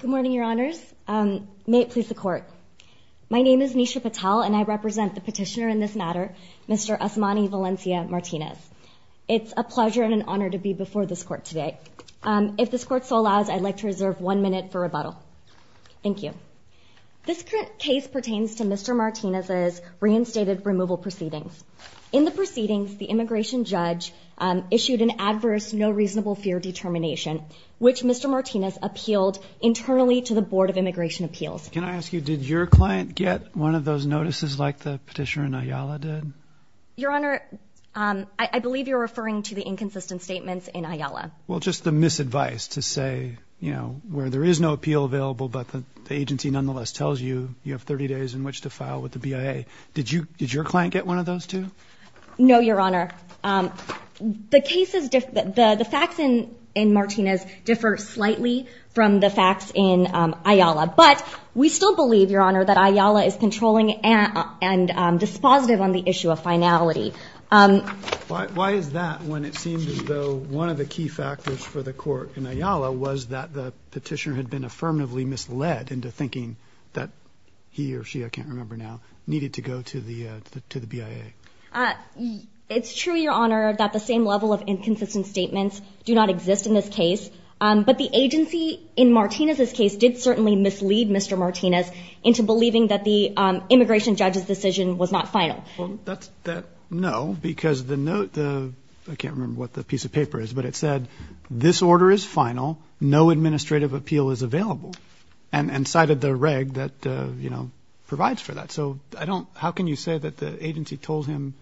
Good morning, your honors. May it please the court. My name is Nisha Patel and I represent the petitioner in this matter, Mr. Osmani Valencia Martinez. It's a pleasure and an honor to be before this court today. If this court so allows, I'd like to reserve one minute for rebuttal. Thank you. This case pertains to Mr. Martinez's reinstated removal proceedings. In the proceedings, the immigration judge issued an adverse no reasonable fear determination, which Mr. Martinez appealed internally to the Board of Immigration Appeals. Can I ask you, did your client get one of those notices like the petitioner in Ayala did? Your honor, I believe you're referring to the inconsistent statements in Ayala. Well, just the misadvice to say, you know, where there is no appeal available, but the agency nonetheless tells you, you have 30 days in which to file with the BIA. Did you, did your client get one of those too? No, your honor. The cases, the facts in Martinez differ slightly from the facts in Ayala, but we still believe, your honor, that Ayala is controlling and dispositive on the issue of finality. Why is that when it seems as though one of the key factors for the court in Ayala was that the petitioner had been affirmatively misled into thinking that he or she, I can't remember now, needed to go to the BIA. It's true, your honor, that the same level of inconsistent statements do not exist in this case. But the agency in Martinez's case did certainly mislead Mr. Martinez into believing that the immigration judge's decision was not final. No, because the note, I can't remember what the piece of paper is, but it said, this order is final. No administrative appeal is available. And cited the reg that, uh, you know, provides for that. So I don't, how can you say that the agency told him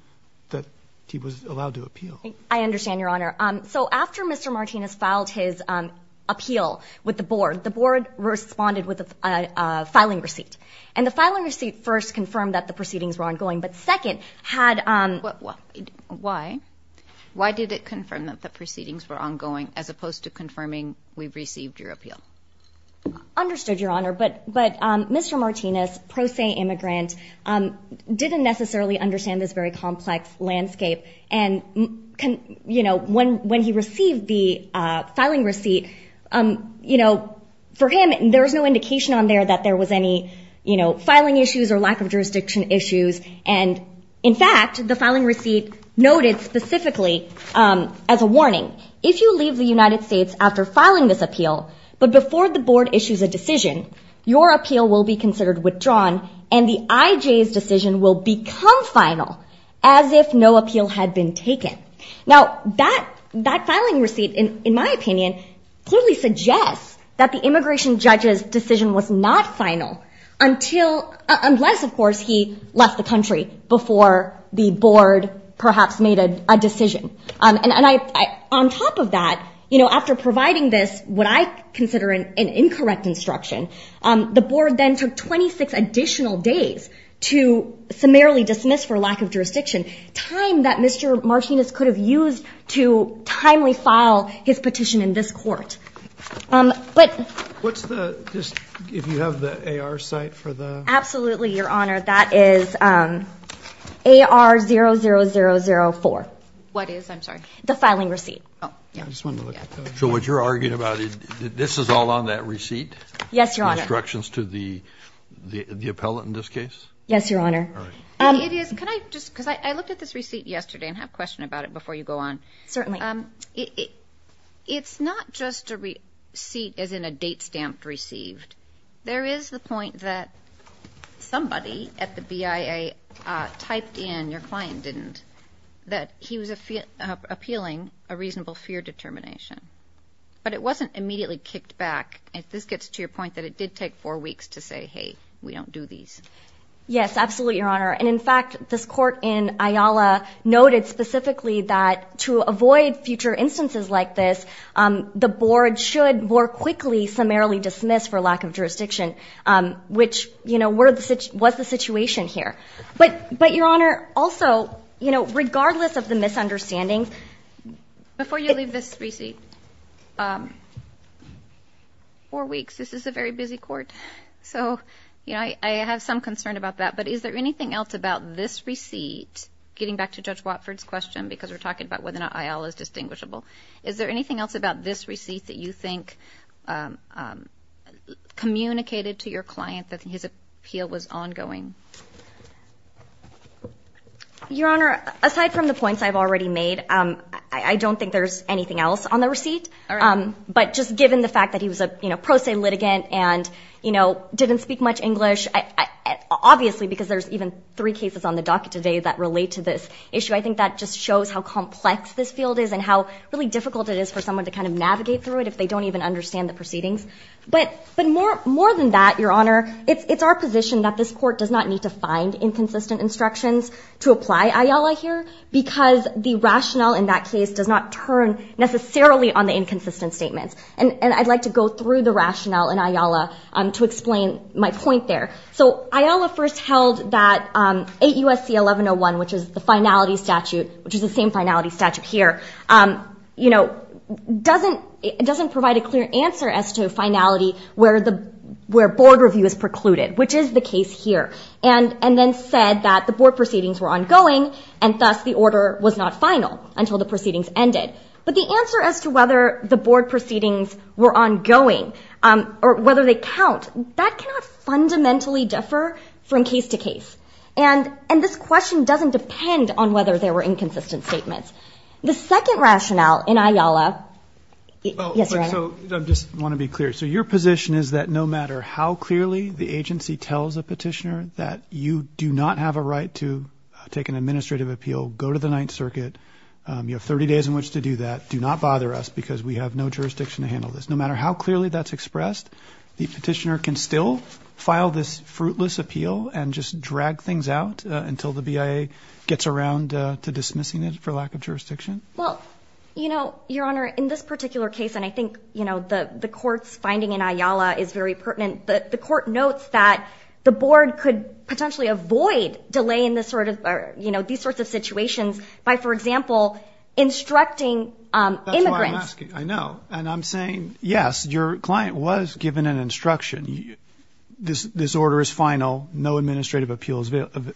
that he was allowed to appeal? I understand your honor. Um, so after Mr. Martinez filed his, um, appeal with the board, the board responded with a, a filing receipt and the filing receipt first confirmed that the proceedings were ongoing, but second had, um, why, why did it confirm that the proceedings were ongoing as opposed to confirming we've received your appeal? Understood your honor. But, but, um, Mr. Martinez, pro se immigrant, um, didn't necessarily understand this very complex landscape and can, you know, when, when he received the, uh, filing receipt, um, you know, for him, there was no indication on there that there was any, you know, filing issues or lack of jurisdiction issues. And in fact, the filing receipt noted specifically, um, as a warning, if you leave the United States before filing this appeal, but before the board issues a decision, your appeal will be considered withdrawn and the IJ's decision will become final as if no appeal had been taken. Now that, that filing receipt in, in my opinion, clearly suggests that the immigration judge's decision was not final until, unless of course he left the country before the board perhaps made a decision. Um, and I, on top of that, you know, after providing this, what I consider an incorrect instruction, um, the board then took 26 additional days to summarily dismiss for lack of jurisdiction time that Mr. Martinez could have used to timely file his petition in this court. Um, but what's the, if you have the AR site for the, absolutely your honor, that is, um, AR 0 0 0 0 4. What is, I'm sorry. The filing receipt. Oh, yeah. I just wanted to look at that. So what you're arguing about it, this is all on that receipt? Yes, your honor. Instructions to the, the, the appellate in this case? Yes, your honor. All right. Um, it is, can I just, cause I, I looked at this receipt yesterday and have a question about it before you go on. Certainly. Um, it, it, it's not just a receipt as in a date stamped received. There is the point that somebody at the BIA, uh, typed in, your client didn't, that he was appealing a reasonable fear determination, but it wasn't immediately kicked back. If this gets to your point that it did take four weeks to say, Hey, we don't do these. Yes, absolutely. Your honor. And in fact, this court in Ayala noted specifically that to avoid future instances like this, um, the board should more quickly summarily dismiss for lack of jurisdiction. Um, which, you know, we're the, was the situation here, but, but your honor also, you know, regardless of the misunderstanding, before you leave this receipt, um, four weeks, this is a very busy court. So, you know, I, I have some concern about that, but is there anything else about this receipt getting back to judge Watford's question? Because we're talking about whether or not Ayala is distinguishable. Is there anything else about this receipt that you think, um, um, communicated to your client that his appeal was ongoing? Your honor, aside from the points I've already made, um, I don't think there's anything else on the receipt. Um, but just given the fact that he was a, you know, pro se litigant and you know, didn't speak much English, I obviously, because there's even three cases on the docket today that relate to this issue. I think that just shows how complex this field is and how really difficult it is for someone to kind of navigate through it if they don't even understand the proceedings. But, but more, more than that, your honor, it's our position that this court does not need to find inconsistent instructions to apply Ayala here because the rationale in that case does not turn necessarily on the inconsistent statements. And, and I'd like to go through the rationale in Ayala, um, to explain my point there. So Ayala first held that, um, 8 U.S.C. 1101, which is the finality statute, which is the same finality statute here, um, you know, doesn't, it doesn't provide a clear answer as to finality where the, where board review is precluded, which is the case here. And, and then said that the board proceedings were ongoing and thus the order was not final until the proceedings ended. But the answer as to whether the board That cannot fundamentally differ from case to case. And, and this question doesn't depend on whether there were inconsistent statements. The second rationale in Ayala, yes, your honor. So I just want to be clear. So your position is that no matter how clearly the agency tells a petitioner that you do not have a right to take an administrative appeal, go to the ninth circuit, um, you have 30 days in which to do that. Do not bother us because we have no jurisdiction to handle this. No matter how clearly that's expressed, the petitioner can still file this fruitless appeal and just drag things out until the BIA gets around to dismissing it for lack of jurisdiction. Well, you know, your honor, in this particular case, and I think, you know, the, the court's finding in Ayala is very pertinent, but the court notes that the board could potentially avoid delay in this sort of, you know, these sorts of situations by, for example, instructing, um, immigrants. I know. And I'm saying, yes, your client was given an instruction. This, this order is final. No administrative appeals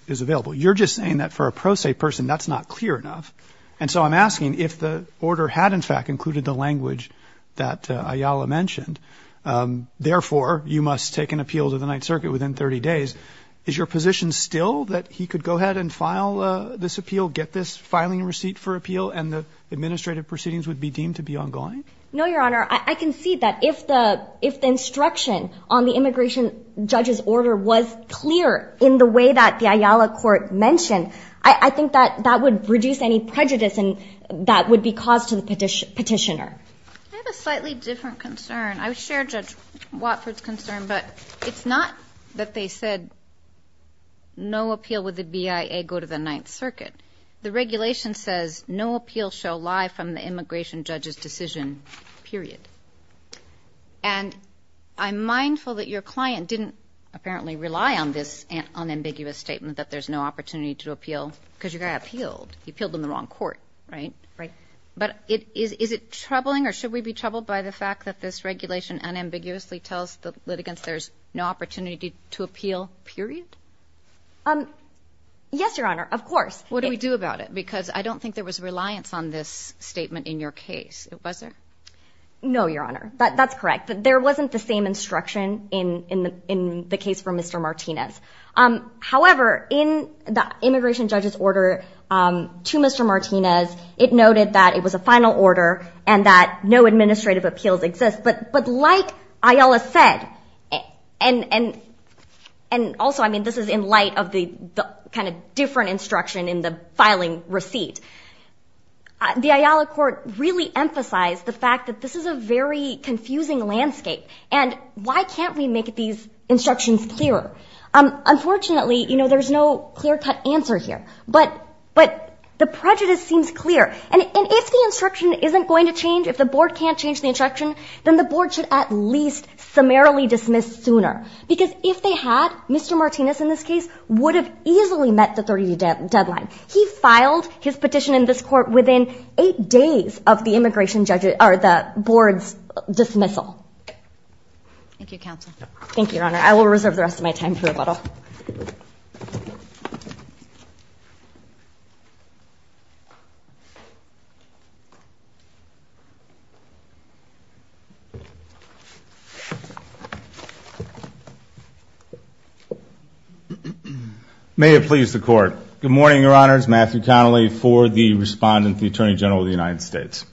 is available. You're just saying that for a pro se person, that's not clear enough. And so I'm asking if the order had in fact included the language that Ayala mentioned, um, therefore you must take an appeal to the ninth circuit within 30 days. Is your position still that he could go ahead and file a, this appeal, get this filing receipt for appeal and the administrative proceedings would be deemed to be ongoing? No, your honor. I can see that if the, if the instruction on the immigration judge's order was clear in the way that the Ayala court mentioned, I think that that would reduce any prejudice and that would be caused to the petitioner. I have a slightly different concern. I would share Judge Watford's concern, but it's not that they said no appeal with the BIA go to the ninth circuit. The regulation says no litigation period. And I'm mindful that your client didn't apparently rely on this unambiguous statement that there's no opportunity to appeal because you got appealed. You appealed in the wrong court, right? Right. But it is, is it troubling or should we be troubled by the fact that this regulation unambiguously tells the litigants there's no opportunity to appeal period? Um, yes, your honor. Of course. What do we do about it? Because I don't think there was reliance on this statement in your case. Was there? No, your honor. That's correct. There wasn't the same instruction in, in the, in the case for Mr. Martinez. Um, however, in the immigration judge's order, um, to Mr. Martinez, it noted that it was a final order and that no administrative appeals exist, but, but like Ayala said, and, and, and also, I mean, this is in light of the, the kind of different instruction in the filing receipt. The Ayala court really emphasized the fact that this is a very confusing landscape and why can't we make these instructions clearer? Um, unfortunately, you know, there's no clear cut answer here, but, but the prejudice seems clear. And if the instruction isn't going to change, if the board can't change the instruction, then the board should at least summarily dismiss this sooner. Because if they had, Mr. Martinez in this case would have easily met the 30 day deadline. He filed his petition in this court within eight days of the immigration judge or the board's dismissal. Thank you, counsel. Thank you, your honor. I will reserve the rest of my time here a little. May it please the court. Good morning, your honors. Matthew Connelly for the respondent, the attorney general of the United States.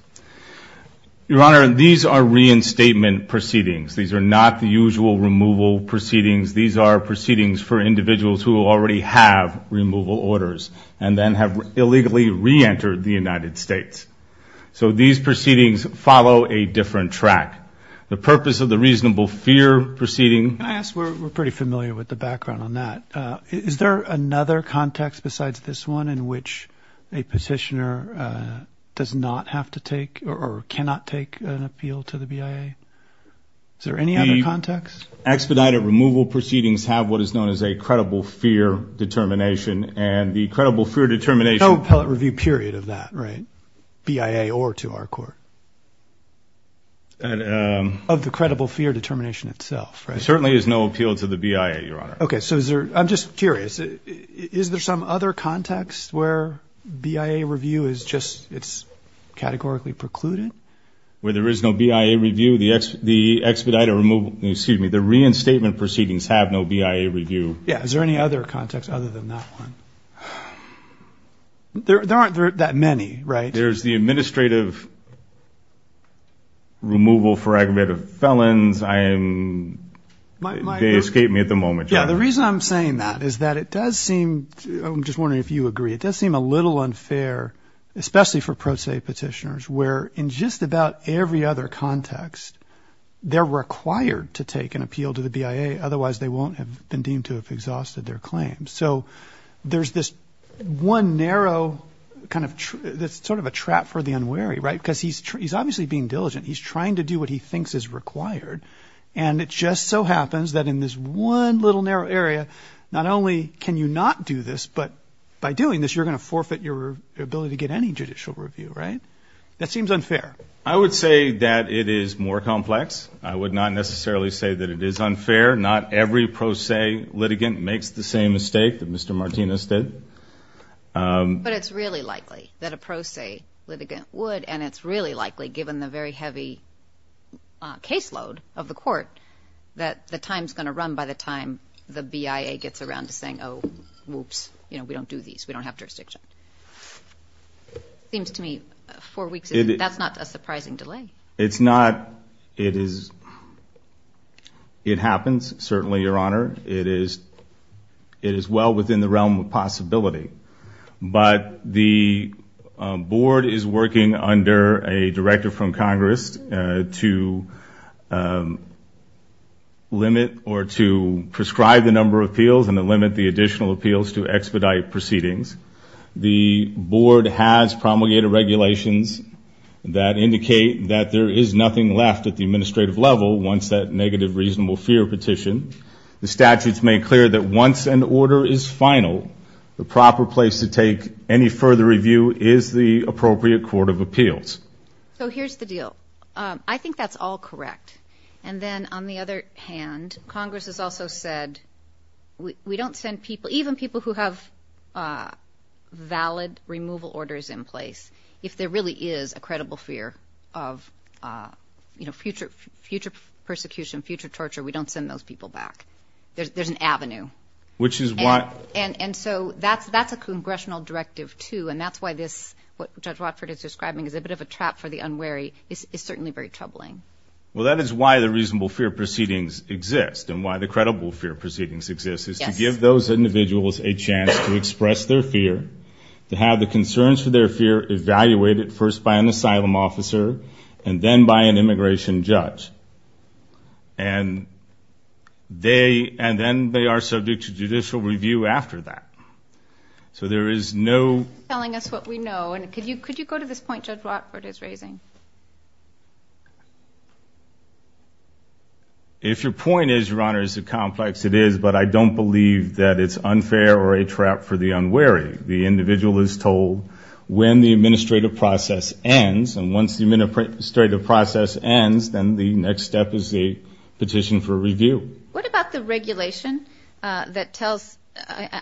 Your honor, these are reinstatement proceedings. These are not the usual removal proceedings. These are proceedings for individuals who already have removal orders and then have illegally re-entered the United States. So these proceedings follow a different track. The purpose of the reasonable fear proceeding. Can I ask, we're pretty familiar with the background on that. Uh, is there another context besides this one in which a petitioner, uh, does not have to take or cannot take an appeal to the BIA? Is there any other context? Expedited removal proceedings have what is known as a credible fear determination and the credible fear determination. No appellate review period of that, right? BIA or to our court. Um, of the credible fear determination itself, right? Certainly is no appeal to the BIA, your honor. Okay. So is there, I'm just curious, is there some other context where BIA review is just, it's categorically precluded? Where there is no BIA review, the expedited removal, excuse me, the reinstatement proceedings have no BIA review. Yeah. Is there any other context other than that one? There aren't that many, right? There's the administrative removal for aggravated felons. I am, they escape me at the moment. Yeah. The reason I'm saying that is that it does seem, I'm just wondering if you agree, it does seem a little unfair, especially for pro se petitioners where in just about every other context, they're required to take an appeal to the BIA. Otherwise they won't have been deemed to have exhausted their claims. So there's this one narrow kind of true, that's sort of a trap for the unwary, right? Cause he's, he's obviously being diligent. He's trying to do what he thinks is required. And it just so happens that in this one little narrow area, not only can you not do this, but by doing this, you're going to forfeit your ability to get any judicial review, right? That seems unfair. I would say that it is more complex. I would not necessarily say that it is unfair. Not every pro se litigant makes the same mistake that Mr. Martinez did. But it's really likely that a pro se litigant would, and it's really likely given the very heavy caseload of the court that the time's going to run by the time the BIA gets around to saying, Oh, whoops, you know, we don't do these. We don't have jurisdiction. Seems to me four weeks. That's not a surprising delay. It's not, it is, it happens. Certainly, Your Honor, it is, it is well within the realm of possibility, but the board is working under a director from Congress to limit or to prescribe the number of appeals and to limit the additional appeals to expedite proceedings. The board has promulgated regulations that indicate that there is nothing left at the administrative level once that negative reasonable fear petition, the statutes made clear that once an order is final, the proper place to take any further review is the appropriate court of appeals. So here's the deal. I think that's all correct. And then on the other hand, Congress has also said, we don't send people, even people who have a valid removal orders in place. If there really is a credible fear of, uh, you know, future, future persecution, future torture, we don't send those people back. There's, there's an avenue, which is why, and so that's, that's a congressional directive too. And that's why this, what judge Watford is describing is a bit of a trap for the unwary is certainly very troubling. Well, that is why the reasonable fear proceedings exist and why the credible fear proceedings exist is to give those individuals a chance to express their fear, to have the concerns for their fear evaluated first by an asylum officer and then by an immigration judge. And they, and then they are subject to judicial review after that. So there is no telling us what we know. And could you, could you go to this point judge Watford is raising? If your point is, your honor, is a complex, it is, but I don't believe that it's unfair or a trap for the unwary. The individual is told when the administrative process ends and once the administrative process ends, then the next step is the petition for review. What about the regulation, uh, that tells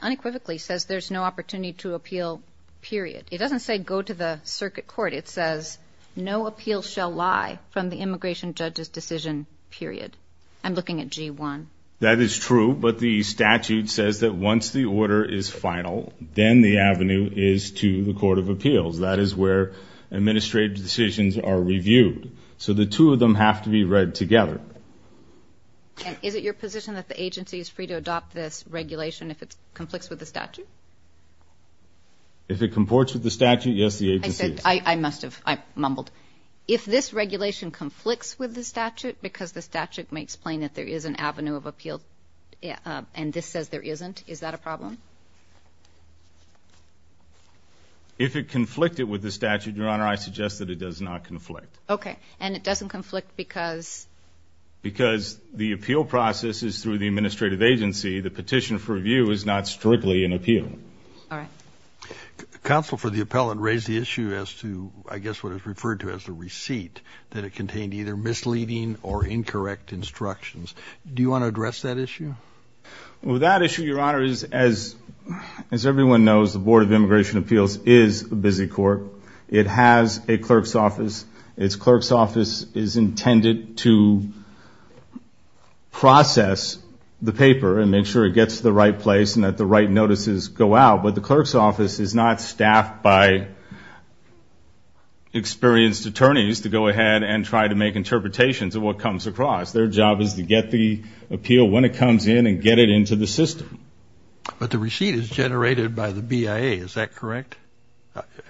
unequivocally says there's no opportunity to appeal period. It doesn't say go to the circuit court. It says no appeal shall lie from the immigration judge's decision period. I'm looking at G1. That is true. But the statute says that once the order is final, then the avenue is to the court of appeals. That is where administrative decisions are reviewed. So the two of them have to be read together. Is it your position that the agency is free to adopt this regulation if it's conflicts with the statute? If it comports with the statute, yes, the agency is. I said, I must have, I mumbled. If this regulation conflicts with the statute because the statute may explain that there is an avenue of appeal and this says there isn't, is that a problem? If it conflicted with the statute, your honor, I suggest that it does not conflict. Okay. And it doesn't conflict because? Because the appeal process is through the administrative agency. The petition for review is not strictly an appeal. Counsel for the appellant raised the issue as to, I guess, what is referred to as a receipt that it contained either misleading or incorrect instructions. Do you want to address that issue? That issue, your honor, is as everyone knows, the Board of Immigration Appeals is a busy court. It has a clerk's office. Its clerk's office is intended to process the paper and ensure it gets to the right place and that the right notices go out. But the clerk's office is not staffed by experienced attorneys to go ahead and try to make interpretations of what comes across. Their job is to get the appeal when it comes in and get it into the system. But the receipt is generated by the BIA, is that correct?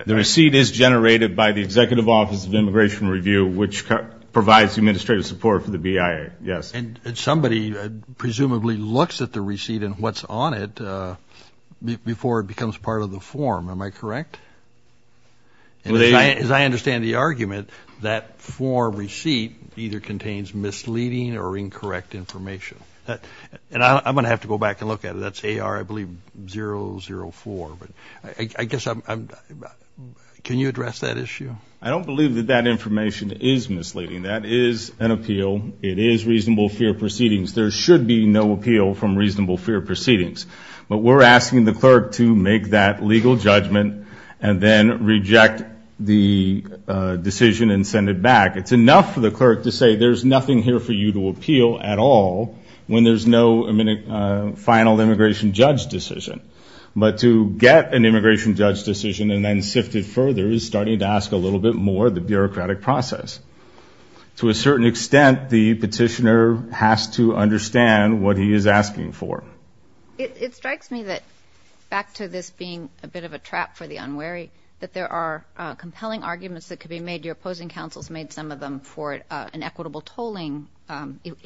The receipt is generated by the Executive Office of Immigration Review, which provides administrative support for the BIA, yes. And somebody presumably looks at the receipt and what's on it before it becomes part of the form, am I correct? As I understand the argument, that form receipt either contains misleading or incorrect information. And I'm going to have to go back and look at it. That's AR, I believe, 004. But I guess I'm, can you address that issue? I don't believe that that information is misleading. That is an appeal. It is reasonable fair proceedings. There should be no appeal from reasonable fair proceedings. But we're asking the clerk to make that legal judgment and then reject the decision and send it back. It's enough for the clerk to say there's nothing here for you to appeal at all when there's no final immigration judge decision. But to get an immigration judge decision and then sift it through, there is starting to ask a little bit more of the bureaucratic process. To a certain extent, the petitioner has to understand what he is asking for. It strikes me that, back to this being a bit of a trap for the unwary, that there are compelling arguments that could be made. Your opposing counsel's made some of them for an equitable tolling.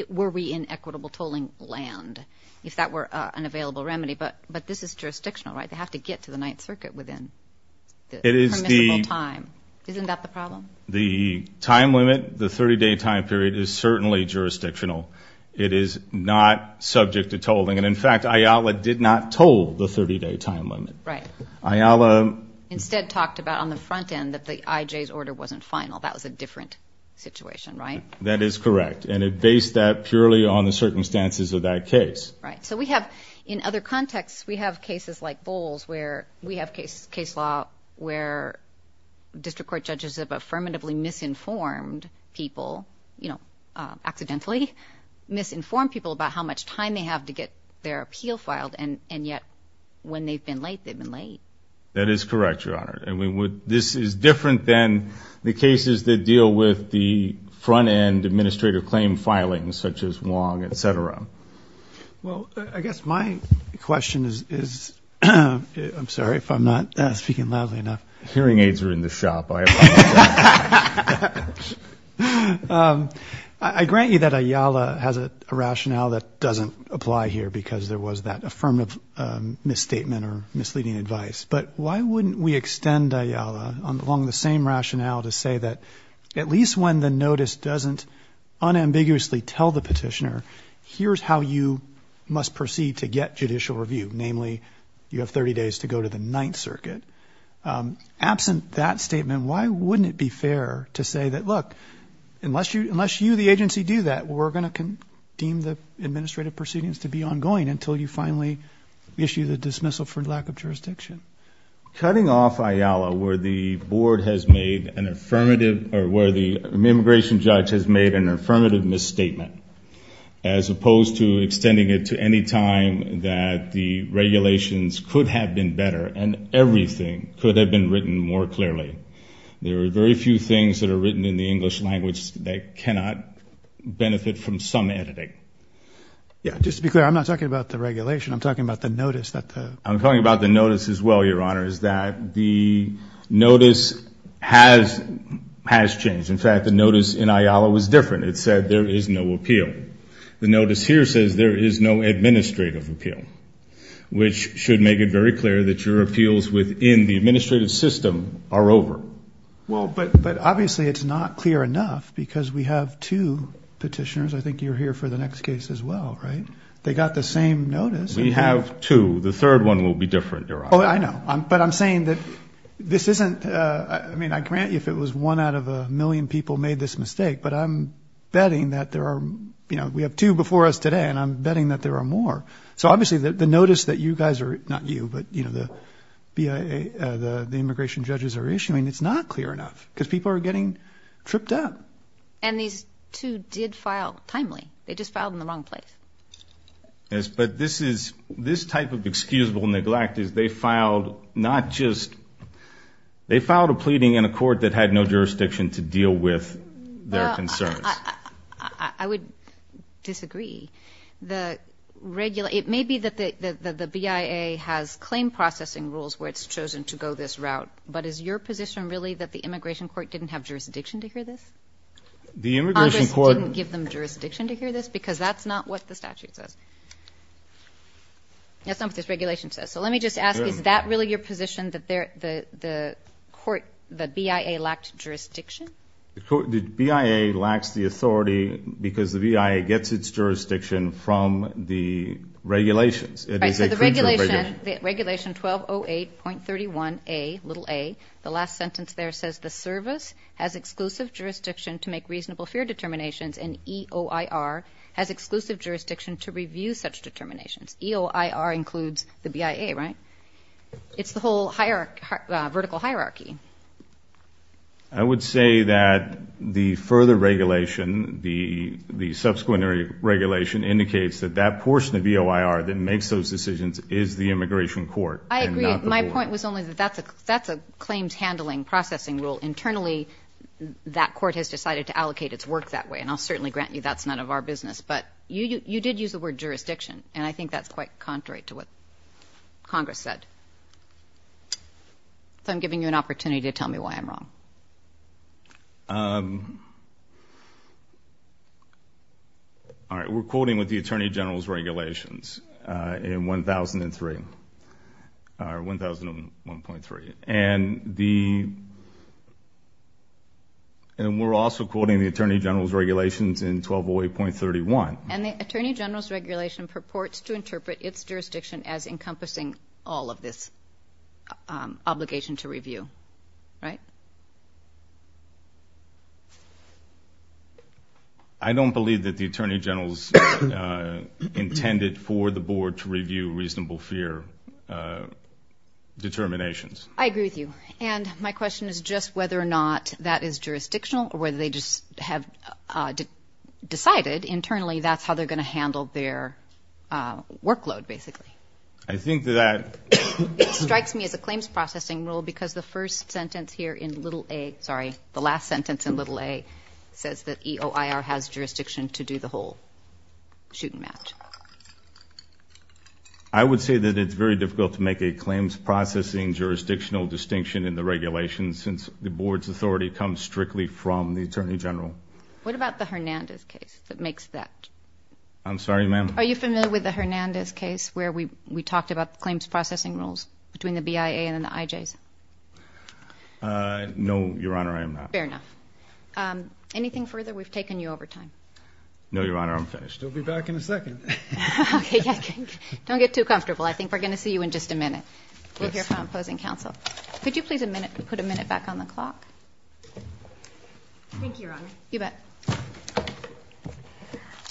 Were we in equitable tolling land if that were an available remedy? But this is jurisdictional, right? They have to get to the Ninth Circuit within the permissible time. Isn't that the problem? The time limit, the 30-day time period, is certainly jurisdictional. It is not subject to tolling. In fact, IALA did not toll the 30-day time limit. Right. Instead talked about on the front end that the IJ's order wasn't final. That was a different situation, right? That is correct. It based that purely on the circumstances of that case. In other contexts, we have cases like Bowles where we have case law where district court judges have affirmatively misinformed people, you know, accidentally misinformed people about how much time they have to get their appeal filed, and yet when they've been late, they've been late. That is correct, Your Honor. This is different than the cases that deal with the front end administrative claim filings such as Wong, et cetera. Well, I guess my question is, I'm sorry if I'm not speaking loudly enough. Hearing aids are in the shop, I apologize. I grant you that IALA has a rationale that doesn't apply here because there was that affirmative misstatement or misleading advice, but why wouldn't we extend IALA along the same rationale to say that at least when the notice doesn't unambiguously tell the petitioner, here's how you must proceed to get judicial review, namely, you have 30 days to go to the Ninth Circuit. Absent that statement, why wouldn't it be fair to say that, look, unless you, the agency do that, we're going to deem the administrative proceedings to be ongoing until you finally issue the dismissal for lack of jurisdiction? Cutting off IALA where the board has made an affirmative, or where the immigration judge has made an affirmative misstatement, as opposed to extending it to any time that the regulations could have been better and everything could have been written more clearly. There are very few things that are written in the English language that cannot benefit from some editing. Yeah, just to be clear, I'm not talking about the regulation. I'm talking about the notice. I'm talking about the notice as well, Your Honor, is that the notice has changed. In fact, the notice in IALA was different. It said there is no appeal. The notice here says there is no administrative appeal, which should make it very clear that your appeals within the administrative system are over. Well, but obviously it's not clear enough because we have two petitioners. I think you're here for the next case as well, right? They got the same notice. We have two. The third one will be different, Your Honor. Oh, I know. But I'm saying that this isn't, I mean, I grant you if it was one out of a million people made this mistake, but I'm betting that there are, you know, we have two before us today and I'm betting that there are more. So obviously the notice that you guys are, not you, but you know, the BIA, the immigration judges are issuing, it's not clear enough because people are getting tripped up. And these two did file timely. They just filed in the wrong place. Yes, but this is, this type of excusable neglect is they filed not just, they filed a pleading in a court that had no jurisdiction to deal with their concerns. I would disagree. The regular, it may be that the BIA has claim processing rules where it's chosen to go this route, but is your position really that the immigration court didn't have jurisdiction to hear this? The immigration court. Congress didn't give them jurisdiction to hear this? Because that's not what the statute says. That's not what this regulation says. So let me just ask, is that really your position that the court, the BIA lacked jurisdiction? The BIA lacks the authority because the BIA gets its jurisdiction from the regulations. Right, so the regulation, the regulation 1208.31a, little a, the last sentence there says the service has exclusive jurisdiction to make reasonable fear determinations and EOIR has exclusive jurisdiction to review such determinations. EOIR includes the BIA, right? It's the whole hierarchy, vertical hierarchy. I would say that the further regulation, the, the subsequent regulation indicates that that portion of EOIR that makes those decisions is the immigration court. I agree. My point was only that that's a, that's a claims handling processing rule internally that court has decided to allocate its work that way and I'll certainly grant you that's none of our business, but you, you, you did use the word jurisdiction and I think that's quite contrary to what Congress said. So I'm giving you an opportunity to tell me why I'm wrong. All right, we're quoting with the Attorney General's regulations in 1003. Or 1001.3 and the, and we're also quoting the Attorney General's regulations in 1208.31. And the Attorney General's regulation purports to interpret its jurisdiction as encompassing all of this obligation to review, right? I don't believe that the Attorney General's intended for the board to review reasonable fear determinations. I agree with you and my question is just whether or not that is jurisdictional or whether they just have decided internally that's how they're going to handle their workload basically. I think that. It strikes me as a claims processing rule because the first sentence here in little A, sorry, the last sentence in little A says that EOIR has jurisdiction to do the whole shoot and match. I would say that it's very difficult to make a claims processing jurisdictional distinction in the regulations since the board's authority comes strictly from the Attorney General. What about the Hernandez case that makes that? I'm sorry, ma'am? Are you familiar with the Hernandez case where we talked about the claims processing rules between the BIA and the IJs? No, Your Honor, I am not. Fair enough. We've taken you over time. No, Your Honor, I'm finished. I'll be back in a second. Okay. Don't get too comfortable. I think we're going to see you in just a minute. Yes. We'll hear from opposing counsel. Could you please put a minute back on the clock? Thank you, Your Honor. You bet.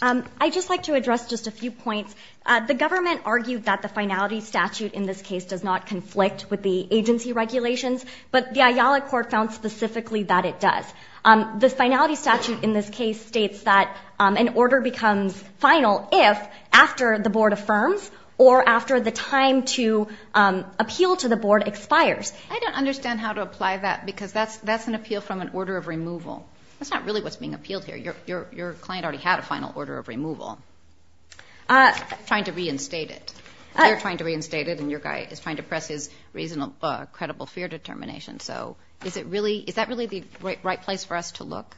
I'd just like to address just a few points. The government argued that the finality statute in this case does not conflict with the agency regulations, but the IALA court found specifically that it does. The finality statute in this case states that an order becomes subject to the agency regulations after the board affirms or after the time to appeal to the board expires. I don't understand how to apply that because that's an appeal from an order of removal. That's not really what's being appealed here. Your client already had a final order of removal. Trying to reinstate it. They're trying to reinstate it, and your guy is trying to press his reasonable, credible fear determination. So is that really the right place for us to look?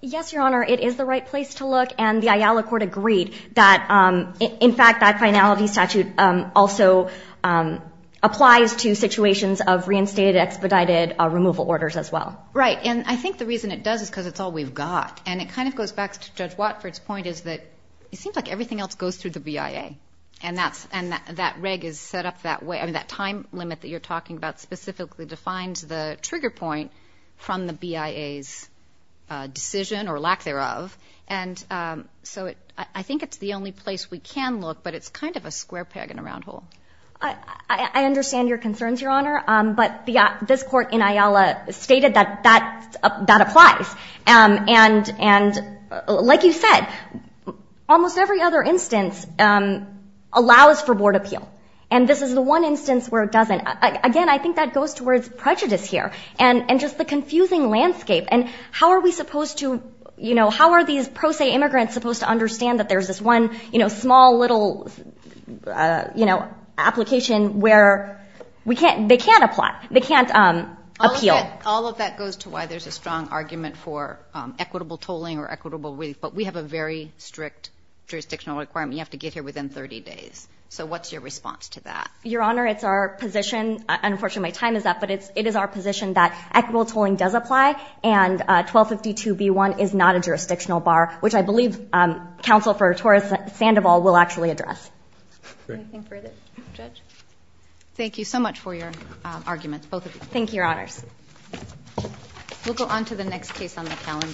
Yes, Your Honor, it is the right place to look. And the IALA court agreed that, in fact, that finality statute also applies to situations of reinstated expedited removal orders as well. Right. And I think the reason it does is because it's all we've got. And it kind of goes back to Judge Watford's point is that it seems like everything else goes through the BIA. And that reg is set up that way. That time limit that you're talking about specifically defines the trigger point from the BIA's decision or lack thereof. And so I think it's the only place we can look, but it's kind of a square peg in a round hole. I understand your concerns, Your Honor. But this court in IALA stated that that applies. And like you said, almost every other instance allows for board appeal. And this is the one instance where it doesn't. Again, I think that goes towards prejudice here and just the confusing landscape. And how are we supposed to, you know, how are these pro se immigrants supposed to understand that there's this one, you know, small little, you know, application where they can't apply, they can't appeal? All of that goes to why there's a strong argument for equitable tolling or equitable relief. But we have a very strict jurisdictional requirement. You have to get here within 30 days. So what's your response to that? Your Honor, it's our position. Unfortunately, my time is up. But it is our position that equitable tolling does apply and 1252B1 is not a jurisdictional bar, which I believe Counsel for Torres Sandoval will actually address. Anything further, Judge? Thank you so much for your arguments, both of you. Thank you, Your Honors. We'll go on to the next case on the calendar.